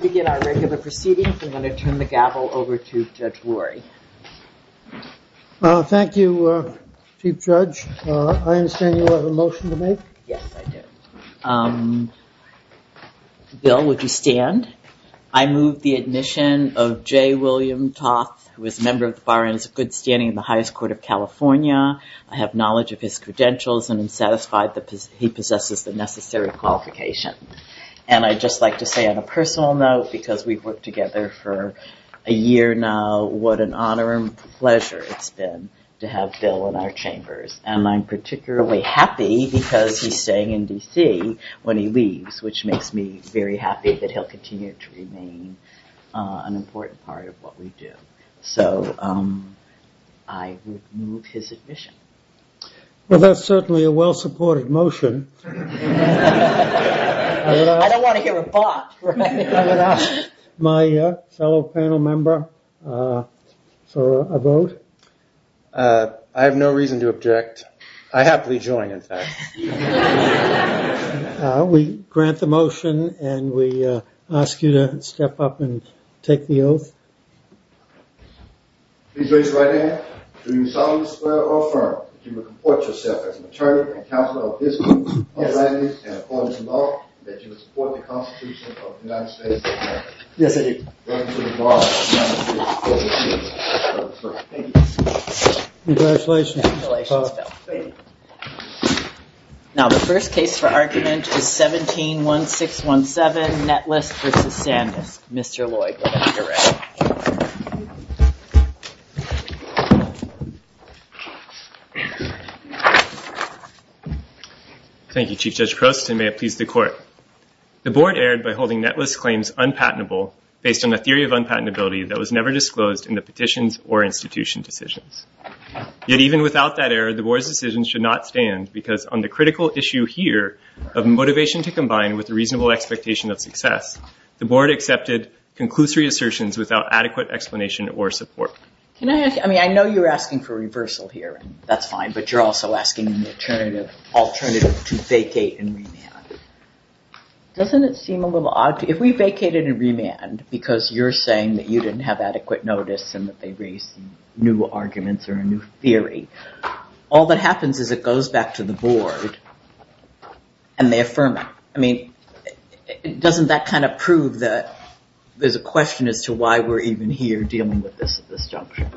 We're going to turn the gavel over to Judge Rory. Thank you, Chief Judge. I understand you have a motion to make? Yes, I do. Bill, would you stand? I move the admission of J. William Toth, who is a member of the Barons of Good Standing in the Highest Court of California. I have knowledge of his credentials and am satisfied that he possesses the necessary qualification. And I'd just like to say on a personal note, because we've worked together for a year now, what an honor and pleasure it's been to have Bill in our chambers. And I'm particularly happy because he's staying in D.C. when he leaves, which makes me very happy that he'll continue to remain an important part of what we do. So I would move his admission. Well, that's certainly a well-supported motion. I don't want to hear a bop. I'm going to ask my fellow panel member for a vote. I have no reason to object. I happily join, in fact. We grant the motion and we ask you to step up and take the oath. Please raise your right hand. Do you solemnly swear or affirm that you will comport yourself as an attorney and counselor of this court, of that case, and of all this law, and that you will support the Constitution of the United States of America? Yes, I do. Welcome to the Bar of the United States of America. Thank you. Congratulations. Congratulations, Bill. Thank you. Now, the first case for argument is 17-1617, Netless v. Sandusk. Mr. Lloyd will direct. Thank you, Chief Judge Croson. May it please the Court. The Board erred by holding Netless' claims unpatentable based on a theory of unpatentability that was never disclosed in the petitions or institution decisions. Yet even without that error, the Board's decision should not stand because, on the critical issue here of motivation to combine with a reasonable expectation of success, the Board accepted conclusory assertions without adequate explanation or support. I know you're asking for reversal here. That's fine. But you're also asking an alternative to vacate and remand. Doesn't it seem a little odd? If we vacated and remand because you're saying that you didn't have adequate notice and that they raised new arguments or a new theory, all that happens is it goes back to the Board and they affirm it. I mean, doesn't that kind of prove that there's a question as to why we're even here dealing with this juncture?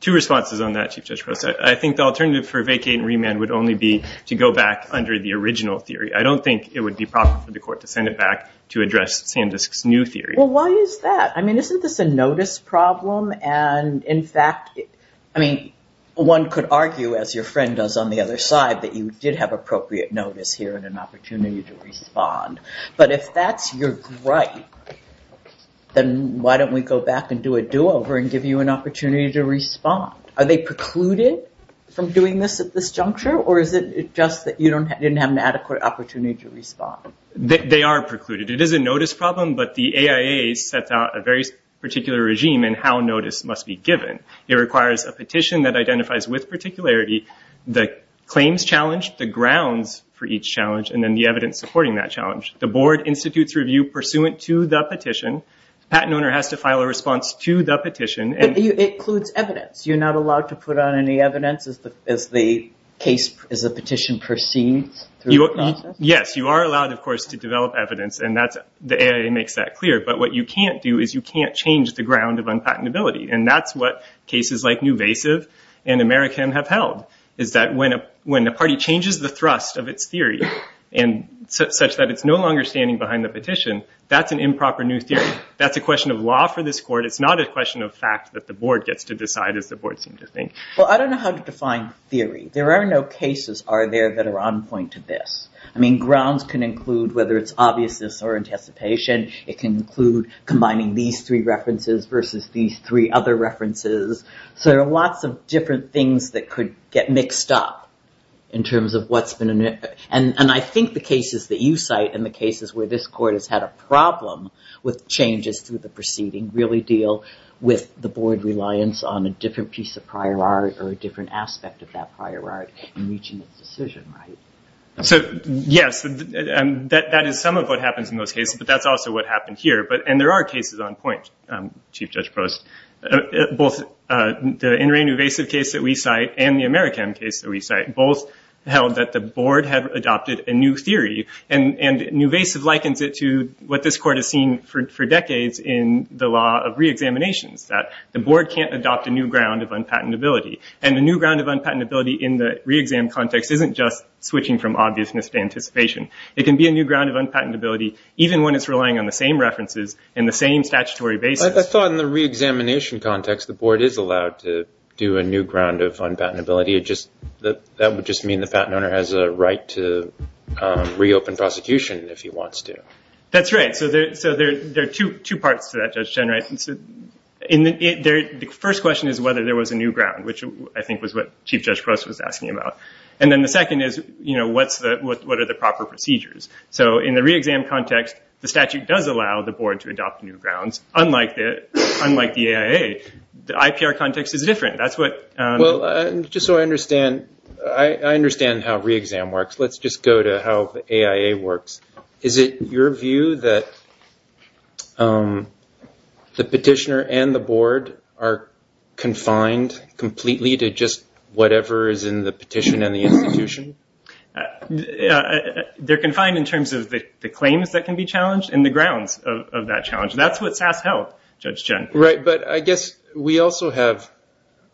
Two responses on that, Chief Judge Croson. I think the alternative for vacating and remand would only be to go back under the original theory. I don't think it would be proper for the Court to send it back to address Sandusk's new theory. Well, why is that? I mean, isn't this a notice problem? And, in fact, I mean, one could argue, as your friend does on the other side, that you did have appropriate notice here and an opportunity to respond. But if that's your right, then why don't we go back and do a do-over and give you an opportunity to respond? Are they precluded from doing this at this juncture, or is it just that you didn't have an adequate opportunity to respond? They are precluded. It is a notice problem, but the AIA sets out a very particular regime in how notice must be given. It requires a petition that identifies with particularity the claims challenge, the grounds for each challenge, and then the evidence supporting that challenge. The Board institutes review pursuant to the petition. The patent owner has to file a response to the petition. But it includes evidence. You're not allowed to put on any evidence? Is the petition perceived through the process? Yes, you are allowed, of course, to develop evidence, and the AIA makes that clear. But what you can't do is you can't change the ground of unpatentability, and that's what cases like Newvasive and American have held, is that when a party changes the thrust of its theory such that it's no longer standing behind the petition, that's an improper new theory. That's a question of law for this Court. It's not a question of fact that the Board gets to decide, as the Board seems to think. Well, I don't know how to define theory. There are no cases, are there, that are on point to this? I mean, grounds can include whether it's obviousness or anticipation. It can include combining these three references versus these three other references. So there are lots of different things that could get mixed up in terms of what's been in it. And I think the cases that you cite and the cases where this Court has had a problem with changes through the proceeding really deal with the Board reliance on a different piece of prior art or a different aspect of that prior art in reaching its decision, right? So, yes, that is some of what happens in those cases, but that's also what happened here. And there are cases on point, Chief Judge Prost. Both the In Re Newvasive case that we cite and the American case that we cite both held that the Board had adopted a new theory. And Newvasive likens it to what this Court has seen for decades in the law of reexaminations, that the Board can't adopt a new ground of unpatentability. And the new ground of unpatentability in the reexam context isn't just switching from obviousness to anticipation. It can be a new ground of unpatentability even when it's relying on the same references and the same statutory basis. I thought in the reexamination context the Board is allowed to do a new ground of unpatentability. That would just mean the patent owner has a right to reopen prosecution if he wants to. That's right. So there are two parts to that, Judge Chenwright. The first question is whether there was a new ground, which I think was what Chief Judge Prost was asking about. And then the second is, what are the proper procedures? So in the reexam context, the statute does allow the Board to adopt new grounds, unlike the AIA. The IPR context is different. Just so I understand, I understand how reexam works. Let's just go to how the AIA works. Is it your view that the petitioner and the Board are confined completely to just whatever is in the petition and the institution? They're confined in terms of the claims that can be challenged and the grounds of that challenge. That's what SAS held, Judge Chen. Right. But I guess we also have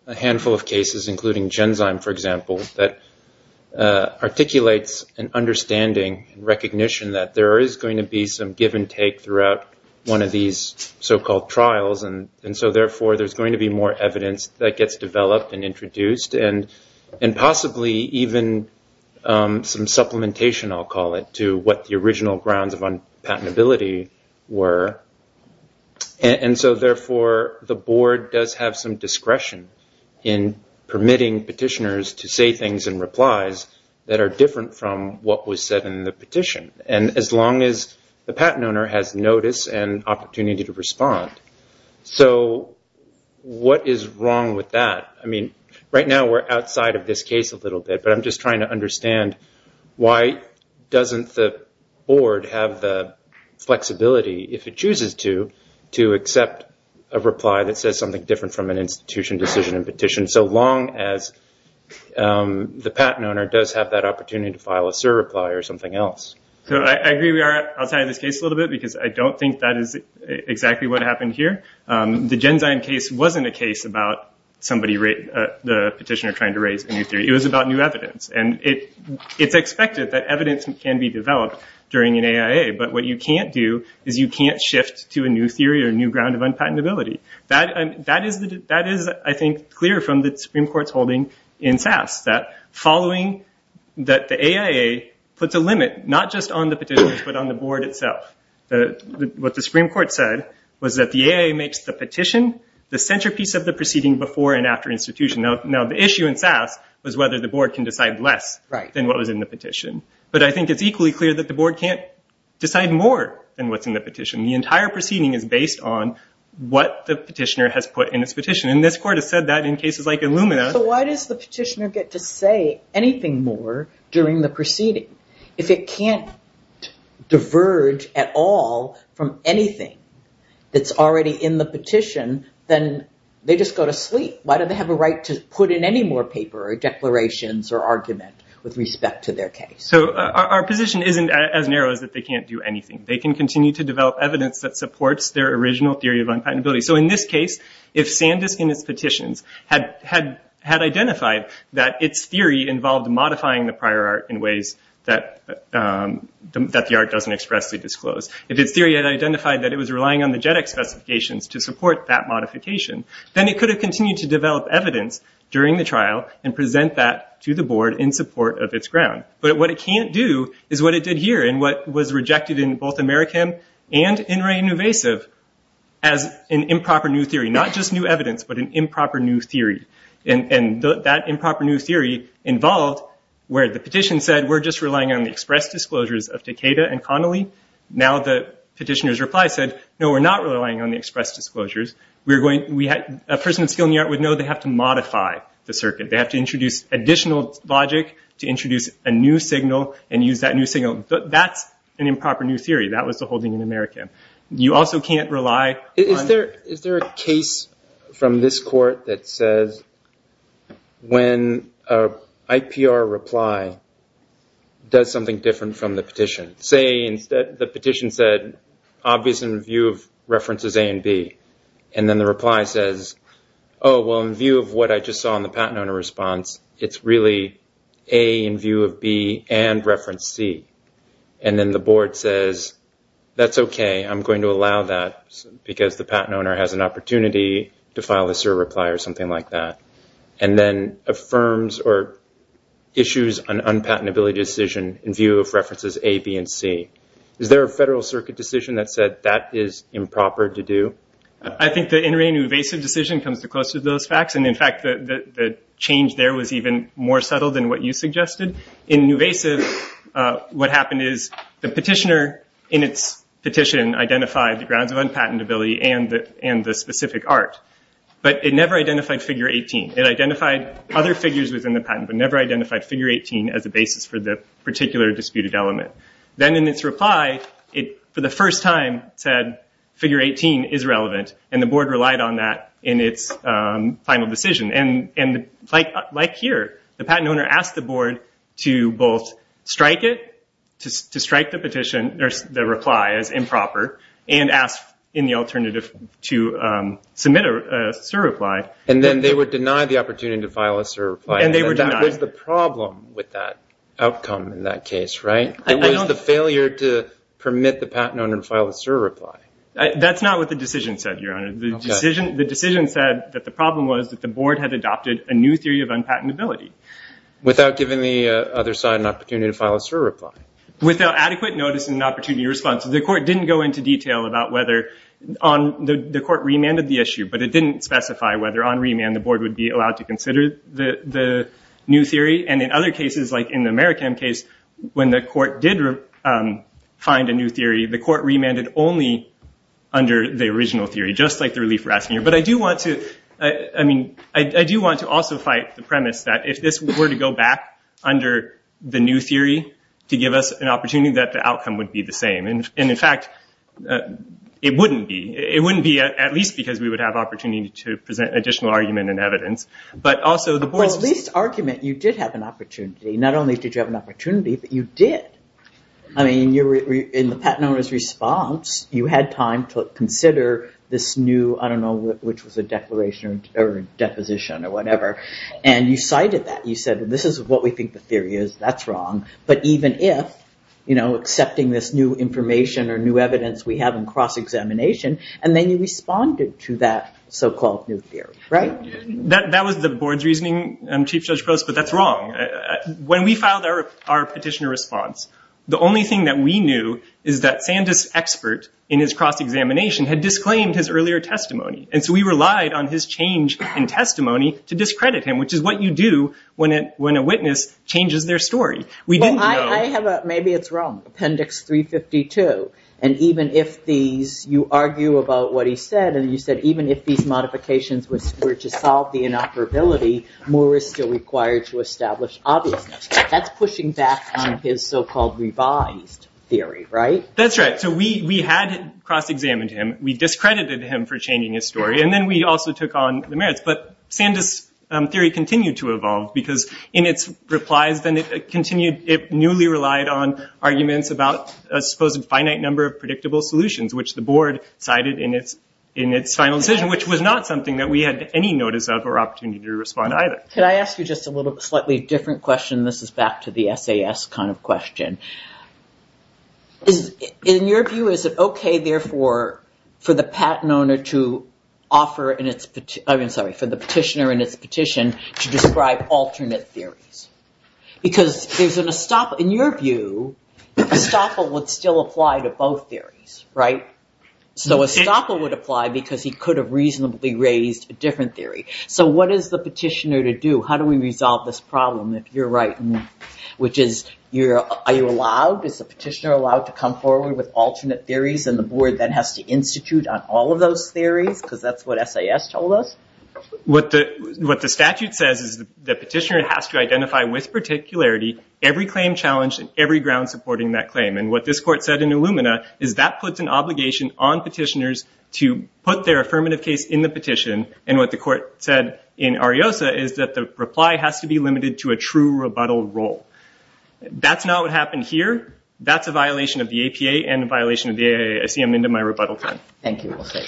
a handful of cases, including Genzyme, for example, that articulates an understanding and recognition that there is going to be some give and take throughout one of these so-called trials. And so, therefore, there's going to be more evidence that gets developed and introduced, and possibly even some supplementation, I'll call it, to what the original grounds of unpatentability were. And so, therefore, the Board does have some discretion in permitting petitioners to say things in replies that are different from what was said in the petition, and as long as the patent owner has notice and opportunity to respond. So what is wrong with that? I mean, right now we're outside of this case a little bit, but I'm just trying to understand why doesn't the Board have the flexibility, if it chooses to, to accept a reply that says something different from an institution decision and petition, so long as the patent owner does have that opportunity to file a surreply or something else. So I agree we are outside of this case a little bit because I don't think that is exactly what happened here. The Genzyme case wasn't a case about the petitioner trying to raise a new theory. It was about new evidence, and it's expected that evidence can be developed during an AIA, but what you can't do is you can't shift to a new theory or a new ground of unpatentability. That is, I think, clear from the Supreme Court's holding in SAS, that the AIA puts a limit not just on the petitioners but on the Board itself. What the Supreme Court said was that the AIA makes the petition the centerpiece of the proceeding before and after institution. Now, the issue in SAS was whether the Board can decide less than what was in the petition, but I think it's equally clear that the Board can't decide more than what's in the petition. The entire proceeding is based on what the petitioner has put in its petition, and this Court has said that in cases like Illumina. So why does the petitioner get to say anything more during the proceeding? If it can't diverge at all from anything that's already in the petition, then they just go to sleep. Why do they have a right to put in any more paper or declarations or argument with respect to their case? So our position isn't as narrow as that they can't do anything. They can continue to develop evidence that supports their original theory of unpatentability. So in this case, if Sandisk and its petitions had identified that its theory involved modifying the prior art in ways that the art doesn't expressly disclose, if its theory had identified that it was relying on the JEDEC specifications to support that modification, then it could have continued to develop evidence during the trial and present that to the Board in support of its ground. But what it can't do is what it did here, and what was rejected in both Amerikam and In Re Innovasiv, as an improper new theory, not just new evidence, but an improper new theory. And that improper new theory involved where the petition said, we're just relying on the express disclosures of Decatur and Connolly. Now the petitioner's reply said, no, we're not relying on the express disclosures. A person with skill in the art would know they have to modify the circuit. They have to introduce additional logic to introduce a new signal and use that new signal. That's an improper new theory. That was the holding in Amerikam. You also can't rely on... Is there a case from this court that says when an IPR reply does something different from the petition? The petition said, obvious in view of references A and B. And then the reply says, oh, well, in view of what I just saw in the patent owner response, it's really A in view of B and reference C. And then the Board says, that's okay. I'm going to allow that because the patent owner has an opportunity to file a SIR reply or something like that. And then affirms or issues an unpatentability decision in view of references A, B, and C. Is there a Federal Circuit decision that said that is improper to do? I think the In Re Nuvasiv decision comes the closest to those facts. And in fact, the change there was even more subtle than what you suggested. In Nuvasiv, what happened is the petitioner in its petition identified the grounds of unpatentability and the specific art. But it never identified figure 18. It identified other figures within the patent, but never identified figure 18 as the basis for the particular disputed element. Then in its reply, for the first time, it said figure 18 is relevant. And the Board relied on that in its final decision. And like here, the patent owner asked the Board to both strike it, to strike the petition, the reply as improper, and asked in the alternative to submit a SIR reply. And then they were denied the opportunity to file a SIR reply. And they were denied. And that was the problem with that outcome in that case, right? It was the failure to permit the patent owner to file a SIR reply. That's not what the decision said, Your Honor. The decision said that the problem was that the Board had adopted a new theory of unpatentability. Without giving the other side an opportunity to file a SIR reply? Without adequate notice and an opportunity to respond. So the Court didn't go into detail about whether on the Court remanded the issue, but it didn't specify whether on remand the Board would be allowed to consider the new theory. And in other cases, like in the Marikam case, when the Court did find a new theory, the Court remanded only under the original theory, just like the relief we're asking here. But I do want to also fight the premise that if this were to go back under the new theory to give us an opportunity, that the outcome would be the same. And in fact, it wouldn't be. It wouldn't be, at least because we would have opportunity to present additional argument and evidence. But also the Board's... Well, at least argument, you did have an opportunity. Not only did you have an opportunity, but you did. I mean, in the patent owner's response, you had time to consider this new, I don't know, which was a declaration or deposition or whatever. And you cited that. You said, this is what we think the theory is. That's wrong. But even if, you know, accepting this new information or new evidence we have in cross-examination, and then you responded to that so-called new theory, right? That was the Board's reasoning, Chief Judge Gross, but that's wrong. When we filed our petitioner response, the only thing that we knew is that Sandus' expert in his cross-examination had disclaimed his earlier testimony. And so we relied on his change in testimony to discredit him, which is what you do when a witness changes their story. We didn't know... Well, I have a, maybe it's wrong, Appendix 352. And even if these, you argue about what he said, and you said, even if these modifications were to solve the inoperability, Moore is still required to establish obviousness. That's pushing back on his so-called revised theory, right? That's right. So we had cross-examined him. We discredited him for changing his story. And then we also took on the merits. But Sandus' theory continued to evolve because in its replies, then it continued, it newly relied on arguments about a supposed finite number of predictable solutions, which the Board cited in its final decision, which was not something that we had any notice of or opportunity to respond to either. Can I ask you just a little bit, slightly different question? This is back to the SAS kind of question. In your view, is it okay, therefore, for the patent owner to offer, I'm sorry, for the petitioner in its petition to describe alternate theories? Because there's an estoppel... In your view, estoppel would still apply to both theories, right? So estoppel would apply because he could have reasonably raised a different theory. So what is the petitioner to do? How do we resolve this problem, if you're right? Which is, are you allowed, is the petitioner allowed to come forward with alternate theories and the Board then has to institute on all of those theories because that's what SAS told us? What the statute says is the petitioner has to identify with particularity every claim challenged and every ground supporting that claim. And what this court said in Illumina is that puts an obligation on petitioners to put their affirmative case in the petition. And what the court said in Ariosa is that the reply has to be limited to a true rebuttal role. That's not what happened here. That's a violation of the APA and a violation of the AACM into my rebuttal time. Thank you. Okay.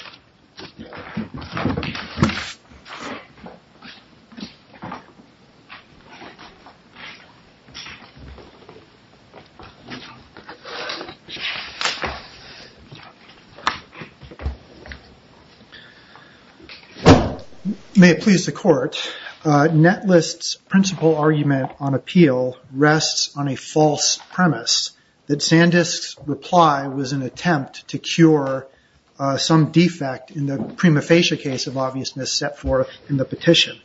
May it please the court, Netlist's principal argument on appeal rests on a false premise that Sandisk's reply was an attempt to cure some defect in the prima facie case of obviousness set forth in the petition.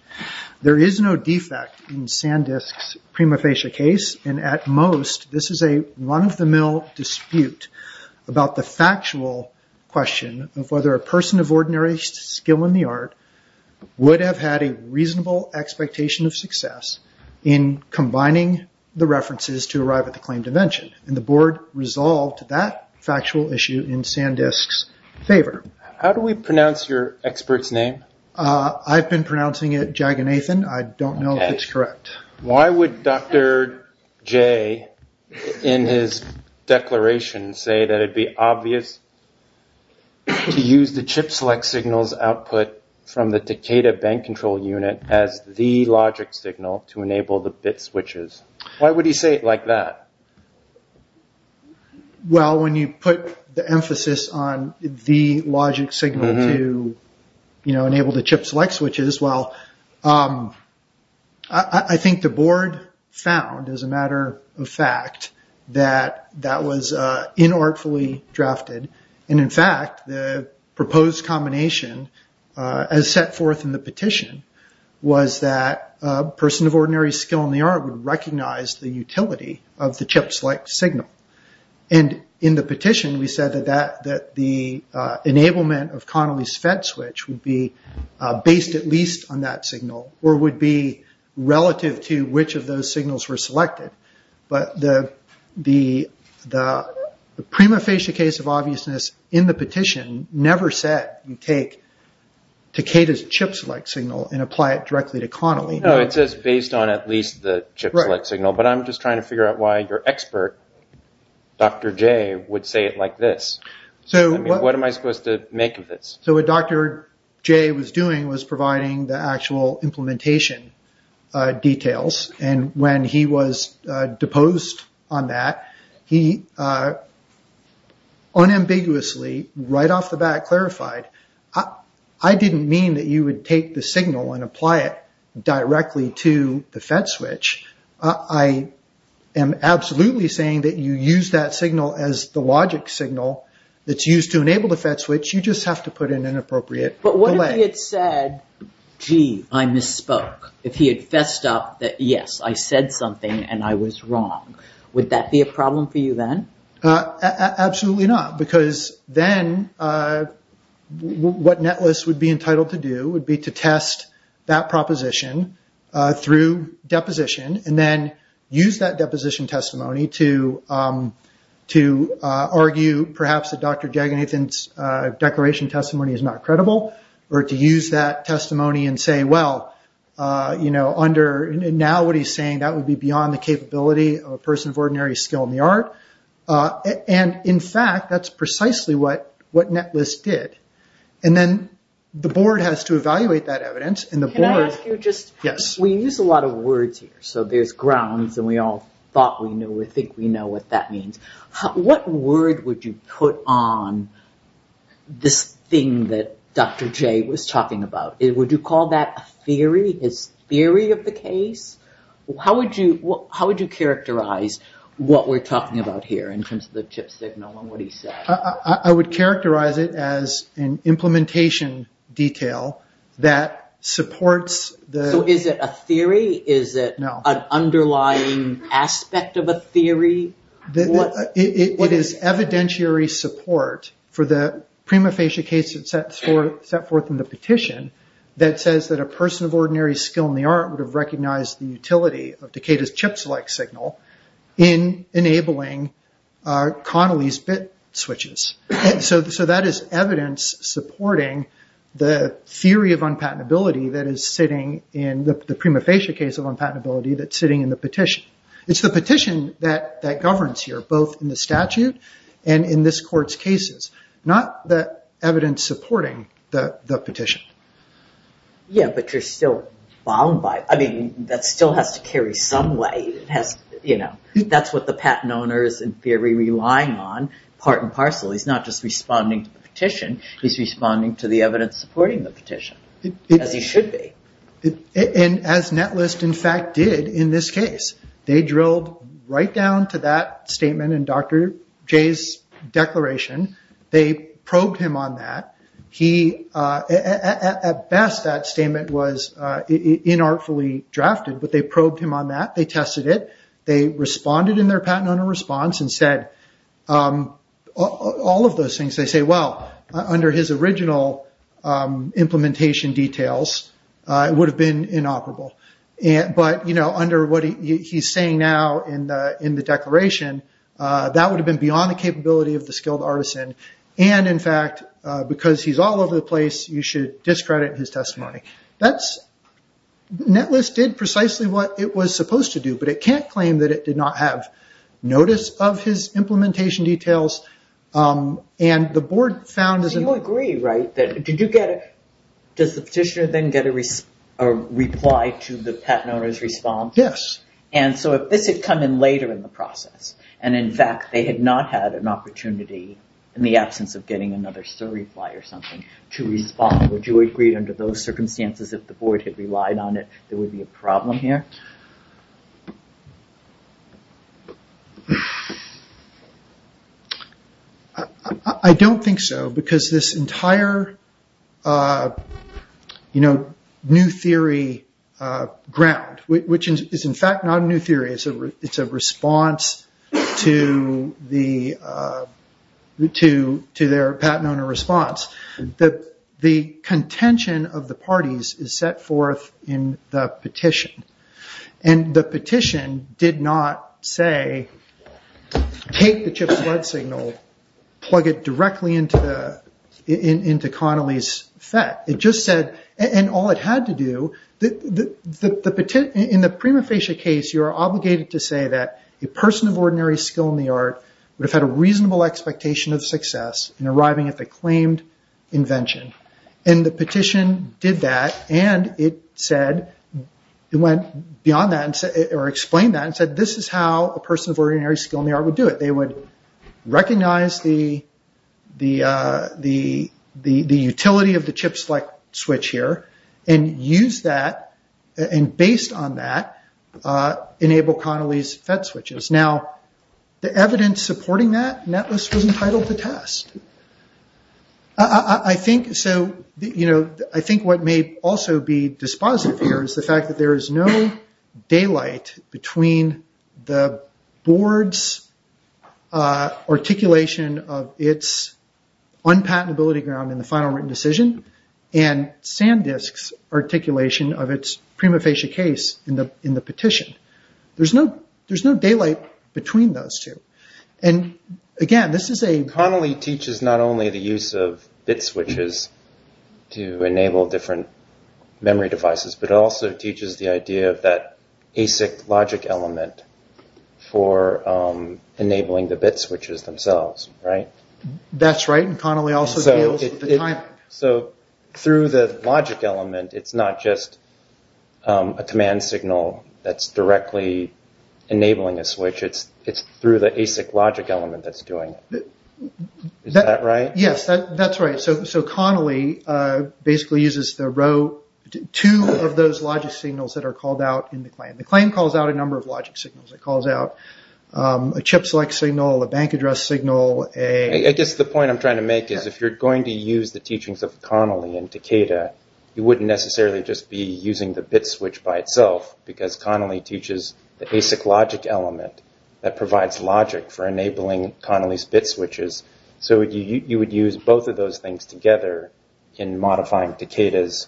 There is no defect in Sandisk's prima facie case, and at most this is a run-of-the-mill dispute about the factual question of whether a person of ordinary skill in the art would have had a reasonable expectation of success in combining the references to arrive at the claim to mention. And the board resolved that factual issue in Sandisk's favor. How do we pronounce your expert's name? I've been pronouncing it Jaganathan. I don't know if it's correct. Why would Dr. J in his declaration say that it would be obvious to use the chip select signal's output from the Takeda bank control unit as the logic signal to enable the bit switches? Why would he say it like that? Well, when you put the emphasis on the logic signal to enable the chip select switches, well, I think the board found, as a matter of fact, that that was inartfully drafted. In fact, the proposed combination as set forth in the petition was that a person of ordinary skill in the art would recognize the utility of the chip select signal. In the petition, we said that the enablement of Connolly's FET switch would be based at least on that signal or would be relative to which of those signals were selected. But the prima facie case of obviousness in the petition never said you take Takeda's chip select signal and apply it directly to Connolly. No, it says based on at least the chip select signal. But I'm just trying to figure out why your expert, Dr. J, would say it like this. What am I supposed to make of this? So what Dr. J was doing was providing the actual implementation details. And when he was deposed on that, he unambiguously, right off the bat, clarified, I didn't mean that you would take the signal and apply it directly to the FET switch. I am absolutely saying that you use that signal as the logic signal that's used to enable the FET switch. You just have to put in an appropriate delay. If he had said, gee, I misspoke, if he had fessed up that, yes, I said something and I was wrong, would that be a problem for you then? Absolutely not, because then what NETLIS would be entitled to do would be to test that proposition through deposition and then use that deposition testimony to argue perhaps that Dr. Jaganathan's declaration testimony is not credible or to use that testimony and say, well, now what he's saying, that would be beyond the capability of a person of ordinary skill in the art. And in fact, that's precisely what NETLIS did. And then the board has to evaluate that evidence. Can I ask you, we use a lot of words here. So there's grounds and we all thought we knew, we think we know what that means. What word would you put on this thing that Dr. Jay was talking about? Would you call that a theory, his theory of the case? How would you characterize what we're talking about here in terms of the chip signal and what he said? I would characterize it as an implementation detail that supports the... So is it a theory? No. Is it an underlying aspect of a theory? It is evidentiary support for the prima facie case that's set forth in the petition that says that a person of ordinary skill in the art would have recognized the utility of Decatur's chip-select signal in enabling Connolly's bit switches. So that is evidence supporting the theory of unpatentability that is sitting in the prima facie case of unpatentability that's sitting in the petition. It's the petition that governs here, both in the statute and in this court's cases. Not the evidence supporting the petition. Yeah, but you're still bound by it. I mean, that still has to carry some way. That's what the patent owner is in theory relying on, part and parcel. He's not just responding to the petition. He's responding to the evidence supporting the petition, as he should be. As Netlist, in fact, did in this case. They drilled right down to that statement in Dr. Jay's declaration. They probed him on that. At best, that statement was inartfully drafted, but they probed him on that. They tested it. They responded in their patent owner response and said all of those things. They say, well, under his original implementation details, it would have been inoperable. But under what he's saying now in the declaration, that would have been beyond the capability of the skilled artisan. And in fact, because he's all over the place, you should discredit his testimony. Netlist did precisely what it was supposed to do, but it can't claim that it did not have notice of his implementation details. And the board found... Do you agree, right? Does the petitioner then get a reply to the patent owner's response? Yes. And so, if this had come in later in the process, and in fact, they had not had an opportunity in the absence of getting another surreply or something to respond, would you agree under those circumstances, if the board had relied on it, there would be a problem here? I don't think so, because this entire new theory ground, which is in fact not a new theory. It's a response to their patent owner response. The contention of the parties is set forth in the petition. And the petition did not say, take the chip's blood signal, plug it directly into Connolly's FET. It just said... And all it had to do... In the prima facie case, you are obligated to say that a person of ordinary skill in the art would have had a reasonable expectation of success in arriving at the claimed invention. And the petition did that, and it said... It went beyond that, or explained that, and said, this is how a person of ordinary skill in the art would do it. They would recognize the utility of the chip select switch here, and use that, and based on that, enable Connolly's FET switches. Now, the evidence supporting that, Netlist was entitled to test. I think what may also be dispositive here is the fact that there is no daylight between the board's articulation of its unpatentability ground in the final written decision, and Sandisk's articulation of its prima facie case in the petition. There's no daylight between those two. And, again, this is a... Connolly teaches not only the use of bit switches to enable different memory devices, but also teaches the idea of that ASIC logic element for enabling the bit switches themselves, right? That's right, and Connolly also deals with the timing. So, through the logic element, it's not just a command signal that's directly enabling a switch. It's through the ASIC logic element that's doing it. Is that right? Yes, that's right. So, Connolly basically uses two of those logic signals that are called out in the claim. The claim calls out a number of logic signals. It calls out a chip select signal, a bank address signal, a... I guess the point I'm trying to make is if you're going to use the teachings of Connolly and Takeda, you wouldn't necessarily just be using the bit switch by itself, because Connolly teaches the ASIC logic element that provides logic for enabling Connolly's bit switches. So, you would use both of those things together in modifying Takeda's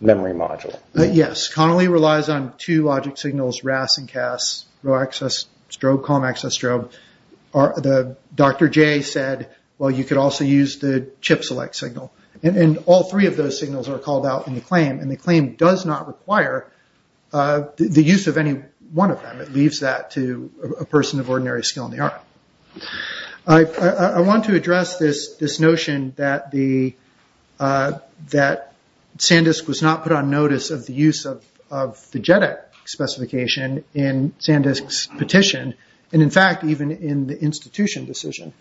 memory module. Yes, Connolly relies on two logic signals, RAS and CAS, row access strobe, column access strobe. Dr. Jay said, well, you could also use the chip select signal. And all three of those signals are called out in the claim, and the claim does not require the use of any one of them. It leaves that to a person of ordinary skill in the art. I want to address this notion that Sandisk was not put on notice of the use of the JEDEC specification in Sandisk's petition. And, in fact, even in the institution decision.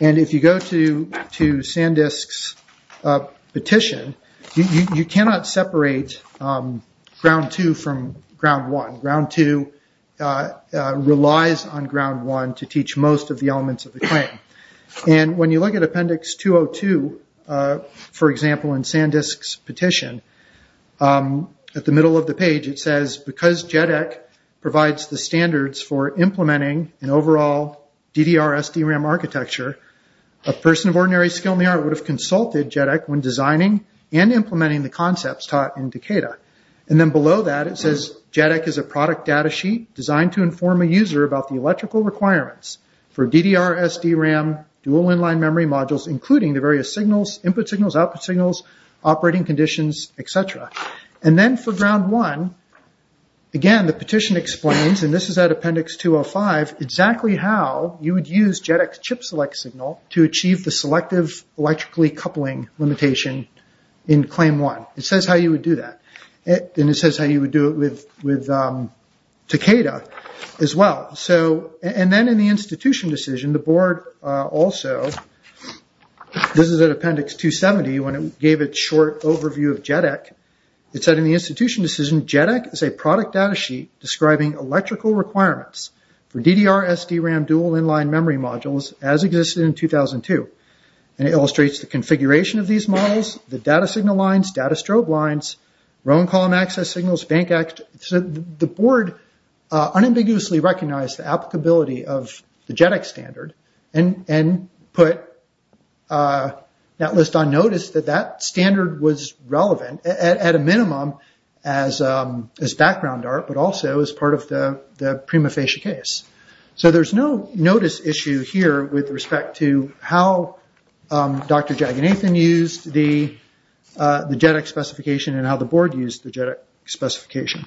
And if you go to Sandisk's petition, you cannot separate Ground 2 from Ground 1. Ground 2 relies on Ground 1 to teach most of the elements of the claim. And when you look at Appendix 202, for example, in Sandisk's petition, at the middle of the page it says, because JEDEC provides the standards for implementing an overall DDR-SDRAM architecture, a person of ordinary skill in the art would have consulted JEDEC when designing and implementing the concepts taught in Takeda. And then below that it says, JEDEC is a product data sheet designed to inform a user about the electrical requirements for DDR-SDRAM dual inline memory modules, including the various signals, input signals, output signals, operating conditions, etc. And then for Ground 1, again the petition explains, and this is at Appendix 205, exactly how you would use JEDEC's chip select signal to achieve the selective electrically coupling limitation in Claim 1. It says how you would do that. And it says how you would do it with Takeda as well. And then in the institution decision, the board also, this is at Appendix 270, when it gave a short overview of JEDEC, it said in the institution decision, JEDEC is a product data sheet describing electrical requirements for DDR-SDRAM dual inline memory modules as existed in 2002. And it illustrates the configuration of these models, the data signal lines, data strobe lines, row and column access signals, bank access. The board unambiguously recognized the applicability of the JEDEC standard and put that list on notice that that standard was relevant at a minimum as background art, but also as part of the prima facie case. So there's no notice issue here with respect to how Dr. Jaganathan used the JEDEC specification and how the board used the JEDEC specification.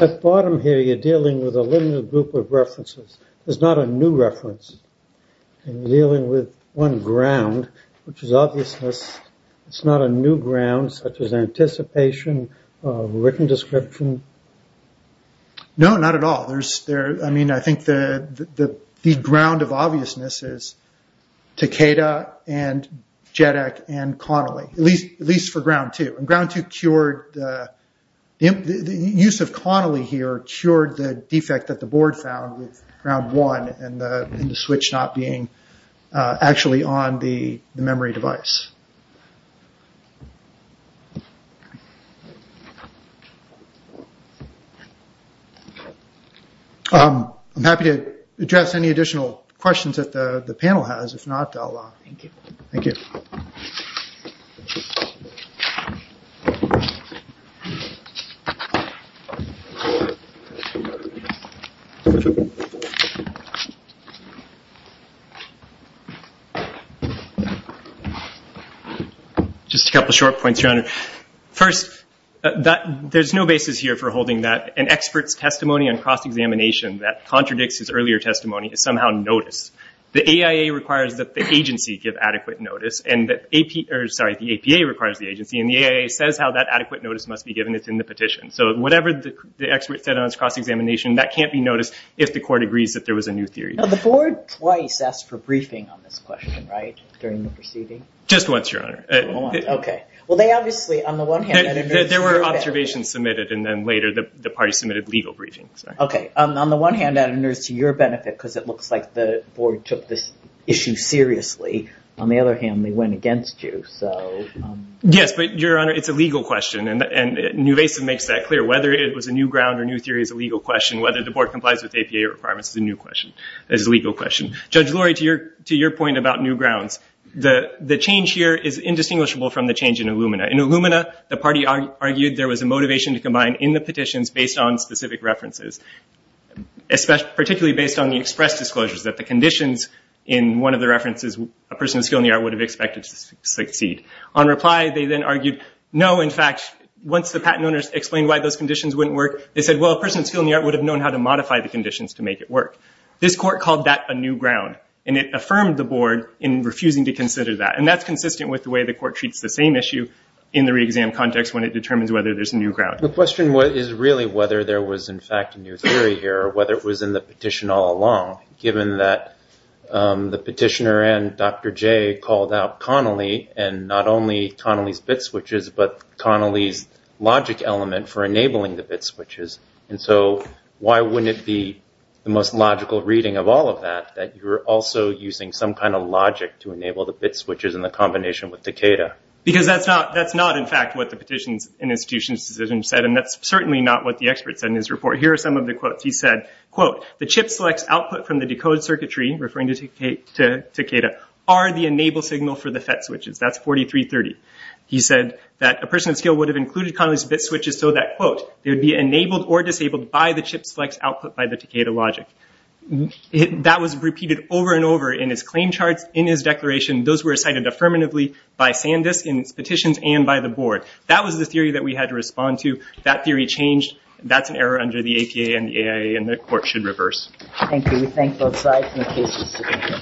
At the bottom here, you're dealing with a limited group of references. There's not a new reference. You're dealing with one ground, which is obviousness. It's not a new ground, such as anticipation, written description. No, not at all. I mean, I think the ground of obviousness is Takeda and JEDEC and Connolly, at least for Ground 2. Ground 2, the use of Connolly here cured the defect that the board found with Ground 1 and the switch not being actually on the memory device. I'm happy to address any additional questions that the panel has. If not, I'll... Thank you. Thank you. Just a couple short points, Your Honor. First, there's no basis here for holding that an expert's testimony on cross-examination that contradicts his earlier testimony is somehow notice. The AIA requires that the agency give adequate notice, and the APA requires the agency, and the AIA says how that adequate notice must be given. It's in the petition. So whatever the expert said on his cross-examination, that can't be noticed if the court agrees that there was a new theory. Now, the board twice asked for briefing on this question, right, during the proceeding? Just once, Your Honor. Okay. Well, they obviously, on the one hand... There were observations submitted, and then later the party submitted legal briefings. Okay. On the one hand, that enters to your benefit because it looks like the board took this issue seriously. On the other hand, they went against you. So... Yes, but, Your Honor, it's a legal question, and Newvasive makes that clear. Whether it was a new ground or new theory is a legal question. Whether the board complies with APA requirements is a legal question. Judge Lurie, to your point about new grounds, the change here is indistinguishable from the change in Illumina. In Illumina, the party argued there was a motivation to combine in the petitions based on specific references, particularly based on the express disclosures, that the conditions in one of the references a person of skill in the art would have expected to succeed. On reply, they then argued, no, in fact, once the patent owners explained why those conditions wouldn't work, they said, well, a person of skill in the art would have known how to modify the conditions to make it work. This court called that a new ground, and it affirmed the board in refusing to consider that, and that's consistent with the way the court treats the same issue in the re-exam context when it determines whether there's a new ground. The question is really whether there was, in fact, a new theory here, whether it was in the petition all along, given that the petitioner and Dr. Jay called out Connolly, and not only Connolly's bit switches, but Connolly's logic element for enabling the bit switches. And so why wouldn't it be the most logical reading of all of that, that you're also using some kind of logic to enable the bit switches in the combination with Decatur? Because that's not, in fact, what the petitions and institutions decisions said, and that's certainly not what the experts said in his report. Here are some of the quotes. He said, quote, the chip selects output from the decode circuitry, referring to Takeda, are the enable signal for the FET switches. That's 4330. He said that a person of skill would have included Connolly's bit switches so that, quote, they would be enabled or disabled by the chip selects output by the Takeda logic. That was repeated over and over in his claim charts, in his declaration. Those were cited affirmatively by Sandisk in its petitions and by the board. That was the theory that we had to respond to. That theory changed. That's an error under the APA and the AIA, and the court should reverse. Thank you. We thank both sides for their cases. Thank you.